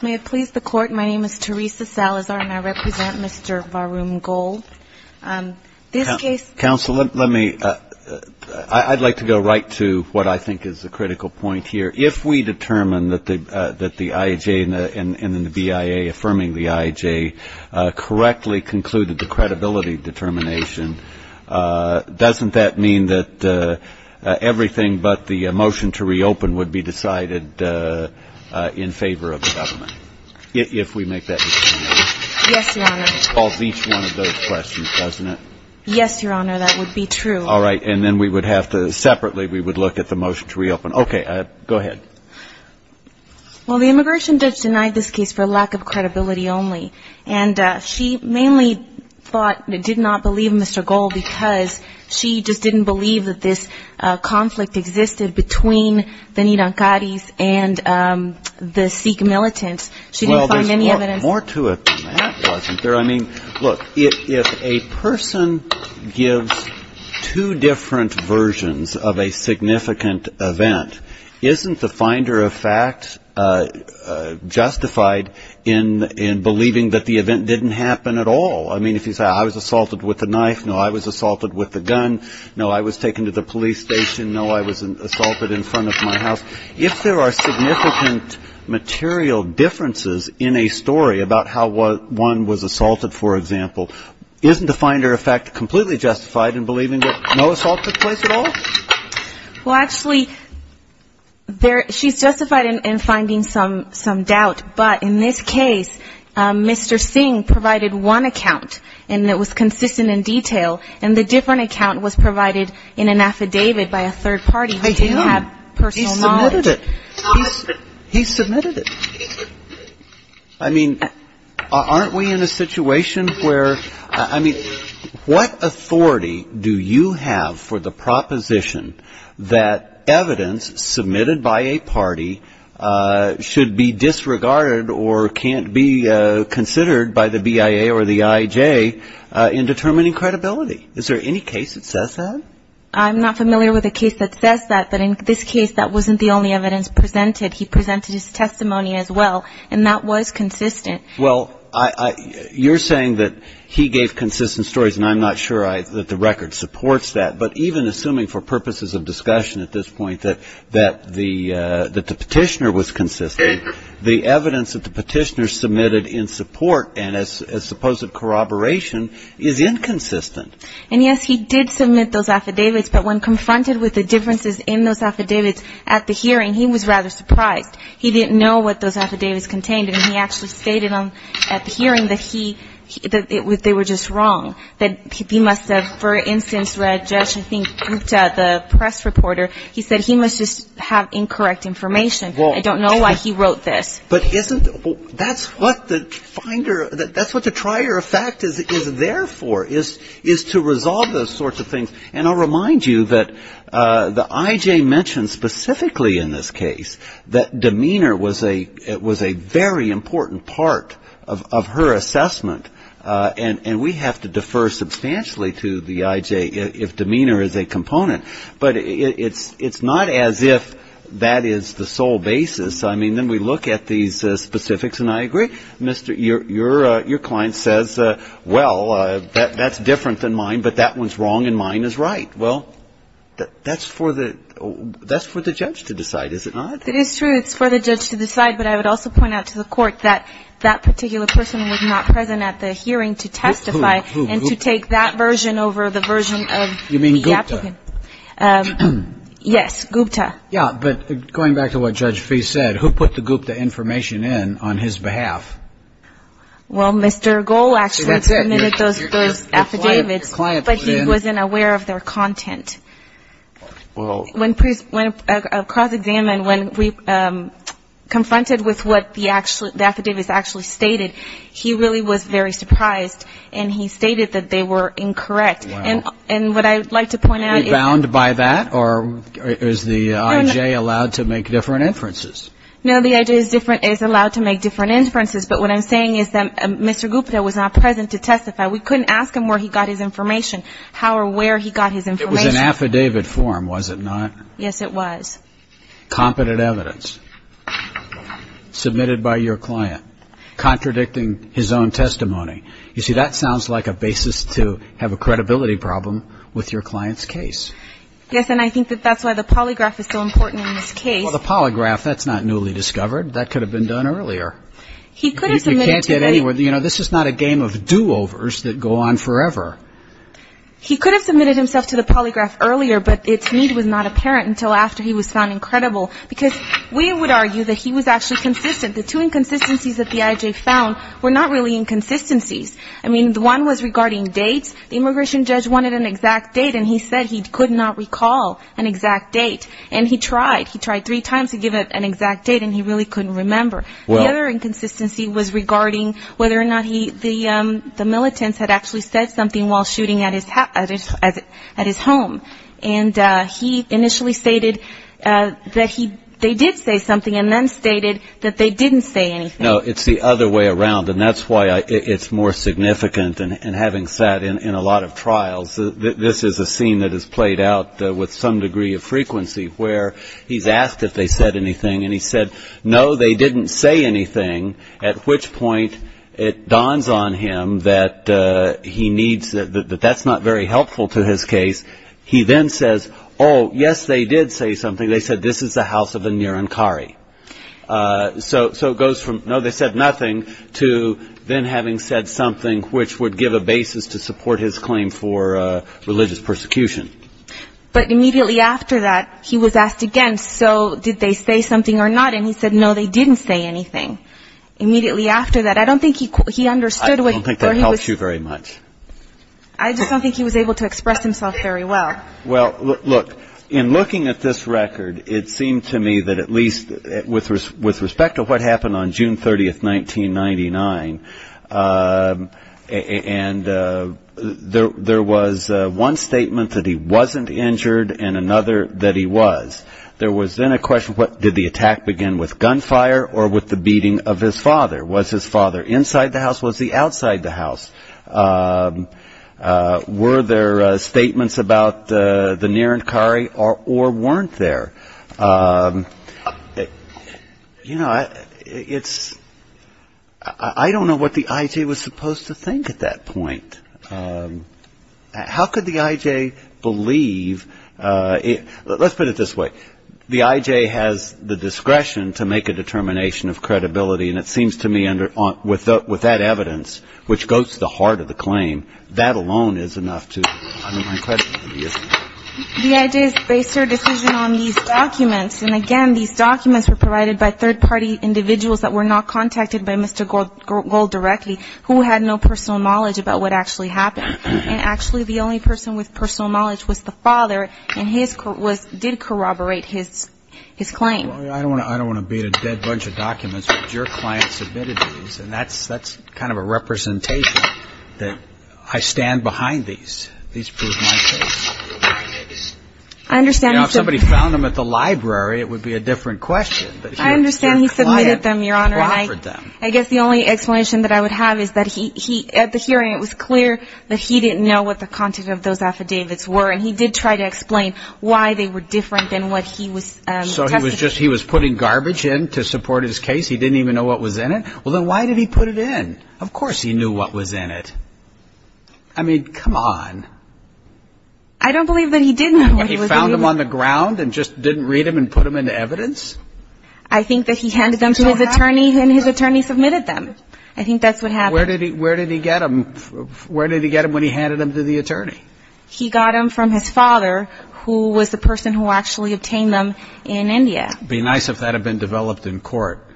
May it please the Court, my name is Teresa Salazar and I represent Mr. Varun Goel. Counsel, I'd like to go right to what I think is the critical point here. If we determine that the IHA and the BIA affirming the IHA correctly concluded the credibility determination, doesn't that mean that everything but the motion to reopen would be decided in favor of the government? If we make that determination. Yes, Your Honor. It solves each one of those questions, doesn't it? Yes, Your Honor, that would be true. All right, and then we would have to separately we would look at the motion to reopen. Okay, go ahead. Well, the immigration judge denied this case for lack of credibility only. And she mainly thought, did not believe Mr. Goel because she just didn't believe that this conflict existed between the Nidankaris and the Sikh militants. She didn't find any evidence. Well, there's more to it than that, wasn't there? I mean, look, if a person gives two different versions of a significant event, isn't the finder of fact justified in believing that the event didn't happen at all? I mean, if you say I was assaulted with a knife, no, I was assaulted with a gun, no, I was taken to the police station, no, I was assaulted in front of my house. If there are significant material differences in a story about how one was assaulted, for example, isn't the finder of fact completely justified in believing that no assault took place at all? Well, actually, she's justified in finding some doubt. But in this case, Mr. Singh provided one account, and it was consistent in detail. And the different account was provided in an affidavit by a third party who didn't have personal knowledge. He submitted it. He submitted it. I mean, aren't we in a situation where, I mean, what authority do you have for the proposition that evidence submitted by a party should be disregarded or can't be considered by the BIA or the IJ in determining credibility? Is there any case that says that? I'm not familiar with a case that says that. But in this case, that wasn't the only evidence presented. He presented his testimony as well, and that was consistent. Well, you're saying that he gave consistent stories, and I'm not sure that the record supports that. But even assuming for purposes of discussion at this point that the petitioner was consistent, the evidence that the petitioner submitted in support and as supposed corroboration is inconsistent. And, yes, he did submit those affidavits. But when confronted with the differences in those affidavits at the hearing, he was rather surprised. He didn't know what those affidavits contained, and he actually stated at the hearing that they were just wrong, that he must have, for instance, read Josh Gupta, the press reporter. He said he must just have incorrect information. I don't know why he wrote this. But that's what the trier of fact is there for, is to resolve those sorts of things. And I'll remind you that the I.J. mentioned specifically in this case that demeanor was a very important part of her assessment. And we have to defer substantially to the I.J. if demeanor is a component. But it's not as if that is the sole basis. I mean, then we look at these specifics, and I agree. Your client says, well, that's different than mine, but that one's wrong and mine is right. Well, that's for the judge to decide, is it not? It is true. It's for the judge to decide. But I would also point out to the court that that particular person was not present at the hearing to testify and to take that version over the version of the applicant. You mean Gupta? Yes, Gupta. Yeah, but going back to what Judge Fee said, who put the Gupta information in on his behalf? Well, Mr. Goal actually submitted those affidavits, but he wasn't aware of their content. When a cross-examined, when we confronted with what the affidavits actually stated, he really was very surprised, and he stated that they were incorrect. Rebound by that, or is the IJ allowed to make different inferences? No, the IJ is allowed to make different inferences, but what I'm saying is that Mr. Gupta was not present to testify. We couldn't ask him where he got his information, how or where he got his information. It was an affidavit form, was it not? Yes, it was. Competent evidence submitted by your client contradicting his own testimony. You see, that sounds like a basis to have a credibility problem with your client's case. Yes, and I think that that's why the polygraph is so important in this case. Well, the polygraph, that's not newly discovered. That could have been done earlier. You can't get anywhere. You know, this is not a game of do-overs that go on forever. He could have submitted himself to the polygraph earlier, but it to me was not apparent until after he was found incredible, because we would argue that he was actually consistent. The two inconsistencies that the IJ found were not really inconsistencies. I mean, one was regarding dates. The immigration judge wanted an exact date, and he said he could not recall an exact date. And he tried. He tried three times to give it an exact date, and he really couldn't remember. The other inconsistency was regarding whether or not the militants had actually said something while shooting at his home. And he initially stated that they did say something, and then stated that they didn't say anything. No, it's the other way around, and that's why it's more significant. And having sat in a lot of trials, this is a scene that has played out with some degree of frequency, where he's asked if they said anything, and he said, no, they didn't say anything, at which point it dawns on him that that's not very helpful to his case. He then says, oh, yes, they did say something. They said, this is the house of a Nirankari. So it goes from, no, they said nothing, to then having said something, which would give a basis to support his claim for religious persecution. But immediately after that, he was asked again, so did they say something or not? And he said, no, they didn't say anything. Immediately after that, I don't think he understood what he was saying. I don't think that helps you very much. I just don't think he was able to express himself very well. Well, look, in looking at this record, it seemed to me that at least with respect to what happened on June 30th, 1999, and there was one statement that he wasn't injured and another that he was, there was then a question, did the attack begin with gunfire or with the beating of his father? Was his father inside the house? Was he outside the house? Were there statements about the Nirankari or weren't there? You know, I don't know what the IJ was supposed to think at that point. How could the IJ believe, let's put it this way, the IJ has the discretion to make a determination of credibility, and it seems to me with that evidence, which goes to the heart of the claim, that alone is enough to undermine credibility, isn't it? The IJ has based their decision on these documents, and again, these documents were provided by third-party individuals that were not contacted by Mr. Gold directly, who had no personal knowledge about what actually happened, and actually the only person with personal knowledge was the father, and his did corroborate his claim. I don't want to beat a dead bunch of documents, but your client submitted these, and that's kind of a representation that I stand behind these. These prove my case. If somebody found them at the library, it would be a different question. I understand he submitted them, Your Honor, and I guess the only explanation that I would have is that at the hearing it was clear that he didn't know what the content of those affidavits were, and he did try to explain why they were different than what he was testing. So he was putting garbage in to support his case? He didn't even know what was in it? Well, then why did he put it in? Of course he knew what was in it. I mean, come on. I don't believe that he did know what was in it. He found them on the ground and just didn't read them and put them into evidence? I think that he handed them to his attorney and his attorney submitted them. I think that's what happened. Where did he get them? Where did he get them when he handed them to the attorney? He got them from his father, who was the person who actually obtained them in India. It would be nice if that had been developed in court.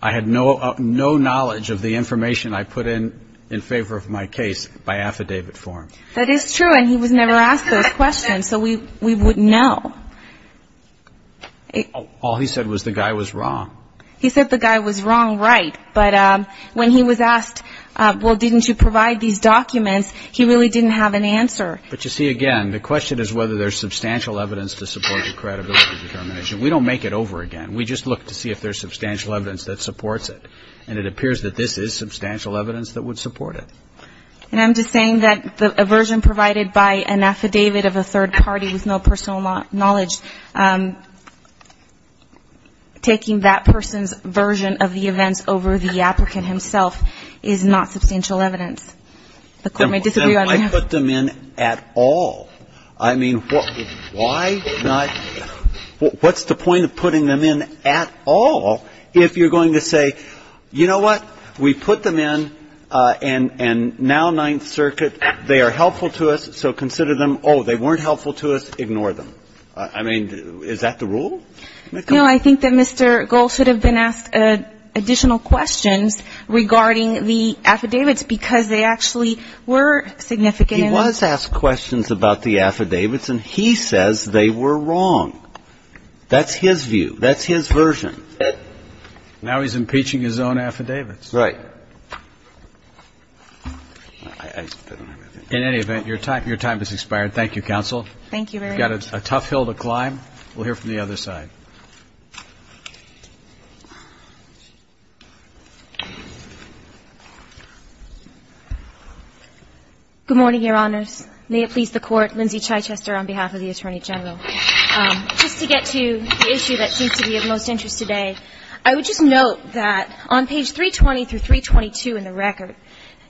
I had no knowledge of the information I put in in favor of my case by affidavit form. That is true, and he was never asked those questions, so we wouldn't know. All he said was the guy was wrong. He said the guy was wrong, right, but when he was asked, well, didn't you provide these documents, he really didn't have an answer. But you see, again, the question is whether there's substantial evidence to support your credibility determination. We don't make it over again. We just look to see if there's substantial evidence that supports it, and it appears that this is substantial evidence that would support it. And I'm just saying that the version provided by an affidavit of a third party with no personal knowledge, taking that person's version of the events over the applicant himself is not substantial evidence. The court may disagree on that. Then why put them in at all? I mean, why not? What's the point of putting them in at all if you're going to say, you know what, we put them in, and now Ninth Circuit, they are helpful to us, so consider them. Oh, they weren't helpful to us, ignore them. I mean, is that the rule? No, I think that Mr. Gold should have been asked additional questions regarding the affidavits because they actually were significant. He was asked questions about the affidavits, and he says they were wrong. That's his view. That's his version. Now he's impeaching his own affidavits. Right. In any event, your time has expired. Thank you, Counsel. Thank you very much. You've got a tough hill to climb. We'll hear from the other side. Good morning, Your Honors. May it please the Court, Lindsay Chichester on behalf of the Attorney General. Just to get to the issue that seems to be of most interest today, I would just note that on page 320 through 322 in the record,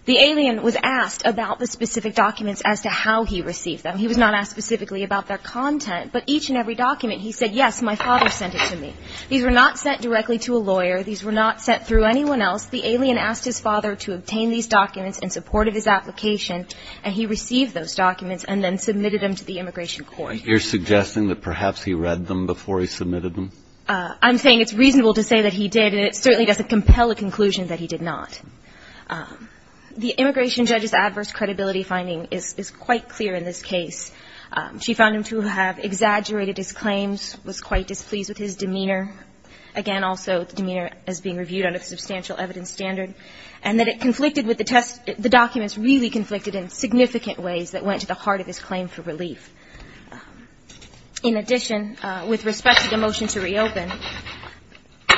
the alien was asked about the specific documents as to how he received them. He was not asked specifically about their content, but each and every document he said, yes, my father sent it to me. These were not sent directly to a lawyer. These were not sent through anyone else. The alien asked his father to obtain these documents in support of his application, and he received those documents and then submitted them to the Immigration Court. You're suggesting that perhaps he read them before he submitted them? I'm saying it's reasonable to say that he did, and it certainly doesn't compel a conclusion that he did not. The Immigration judge's adverse credibility finding is quite clear in this case. She found him to have exaggerated his claims, was quite displeased with his demeanor, again, also the demeanor as being reviewed under the substantial evidence standard, and that it conflicted with the test. The documents really conflicted in significant ways that went to the heart of his claim for relief. In addition, with respect to the motion to reopen,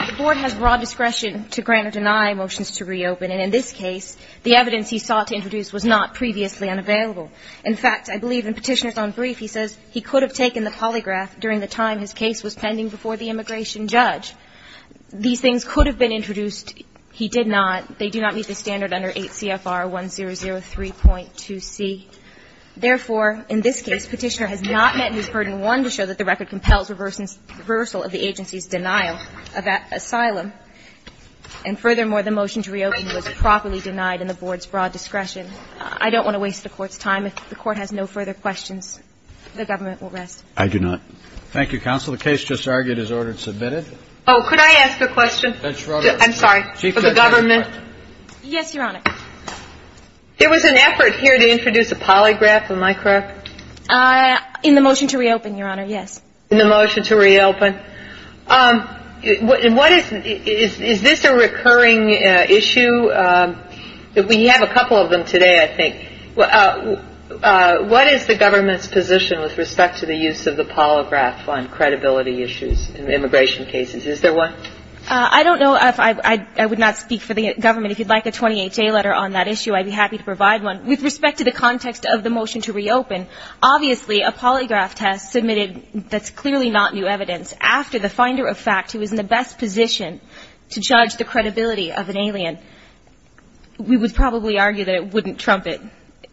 the Board has broad discretion to grant or deny motions to reopen, and in this case, the evidence he sought to introduce was not previously unavailable. In fact, I believe in Petitioner's own brief he says he could have taken the polygraph during the time his case was pending before the Immigration judge. These things could have been introduced. He did not. They do not meet the standard under 8 CFR 1003.2c. Therefore, in this case, Petitioner has not met his burden one to show that the record compels reversal of the agency's denial of asylum. And furthermore, the motion to reopen was properly denied in the Board's broad discretion. I don't want to waste the Court's time. If the Court has no further questions, the Government will rest. I do not. Thank you, Counsel. The case just argued as ordered and submitted. Oh, could I ask a question? Judge Roberts. I'm sorry. For the Government. Yes, Your Honor. There was an effort here to introduce a polygraph. Am I correct? In the motion to reopen, Your Honor. Yes. In the motion to reopen. Is this a recurring issue? We have a couple of them today, I think. What is the Government's position with respect to the use of the polygraph on credibility issues in immigration cases? Is there one? I don't know. I would not speak for the Government. If you'd like a 28-day letter on that issue, I'd be happy to provide one. With respect to the context of the motion to reopen, obviously a polygraph test submitted that's clearly not new evidence after the finder of fact who is in the best position to judge the credibility of an alien, we would probably argue that it wouldn't trump it.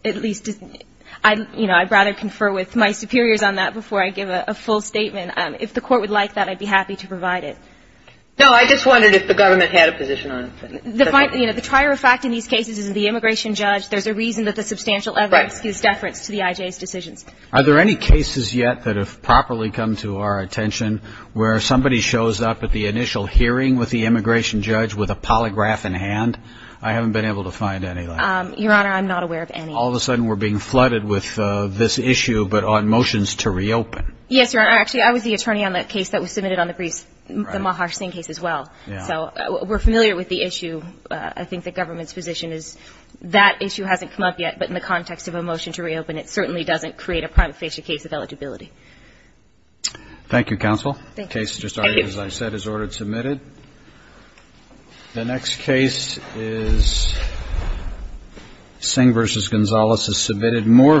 At least, you know, I'd rather confer with my superiors on that before I give a full statement. If the Court would like that, I'd be happy to provide it. No, I just wondered if the Government had a position on it. You know, the trier of fact in these cases is the immigration judge. There's a reason that the substantial evidence gives deference to the IJ's decisions. Are there any cases yet that have properly come to our attention where somebody shows up at the initial hearing with the immigration judge with a polygraph in hand? I haven't been able to find any like that. Your Honor, I'm not aware of any. All of a sudden we're being flooded with this issue, but on motions to reopen. Yes, Your Honor. Actually, I was the attorney on the case that was submitted on the briefs, the Maharsingh case as well. Yeah. So we're familiar with the issue. I think the Government's position is that issue hasn't come up yet, but in the context of a motion to reopen, it certainly doesn't create a prima facie case of eligibility. Thank you, counsel. Thank you. The case, as I said, is ordered submitted. Thank you. The next case is Singh v. Gonzales is submitted. Moore v. Lamarck.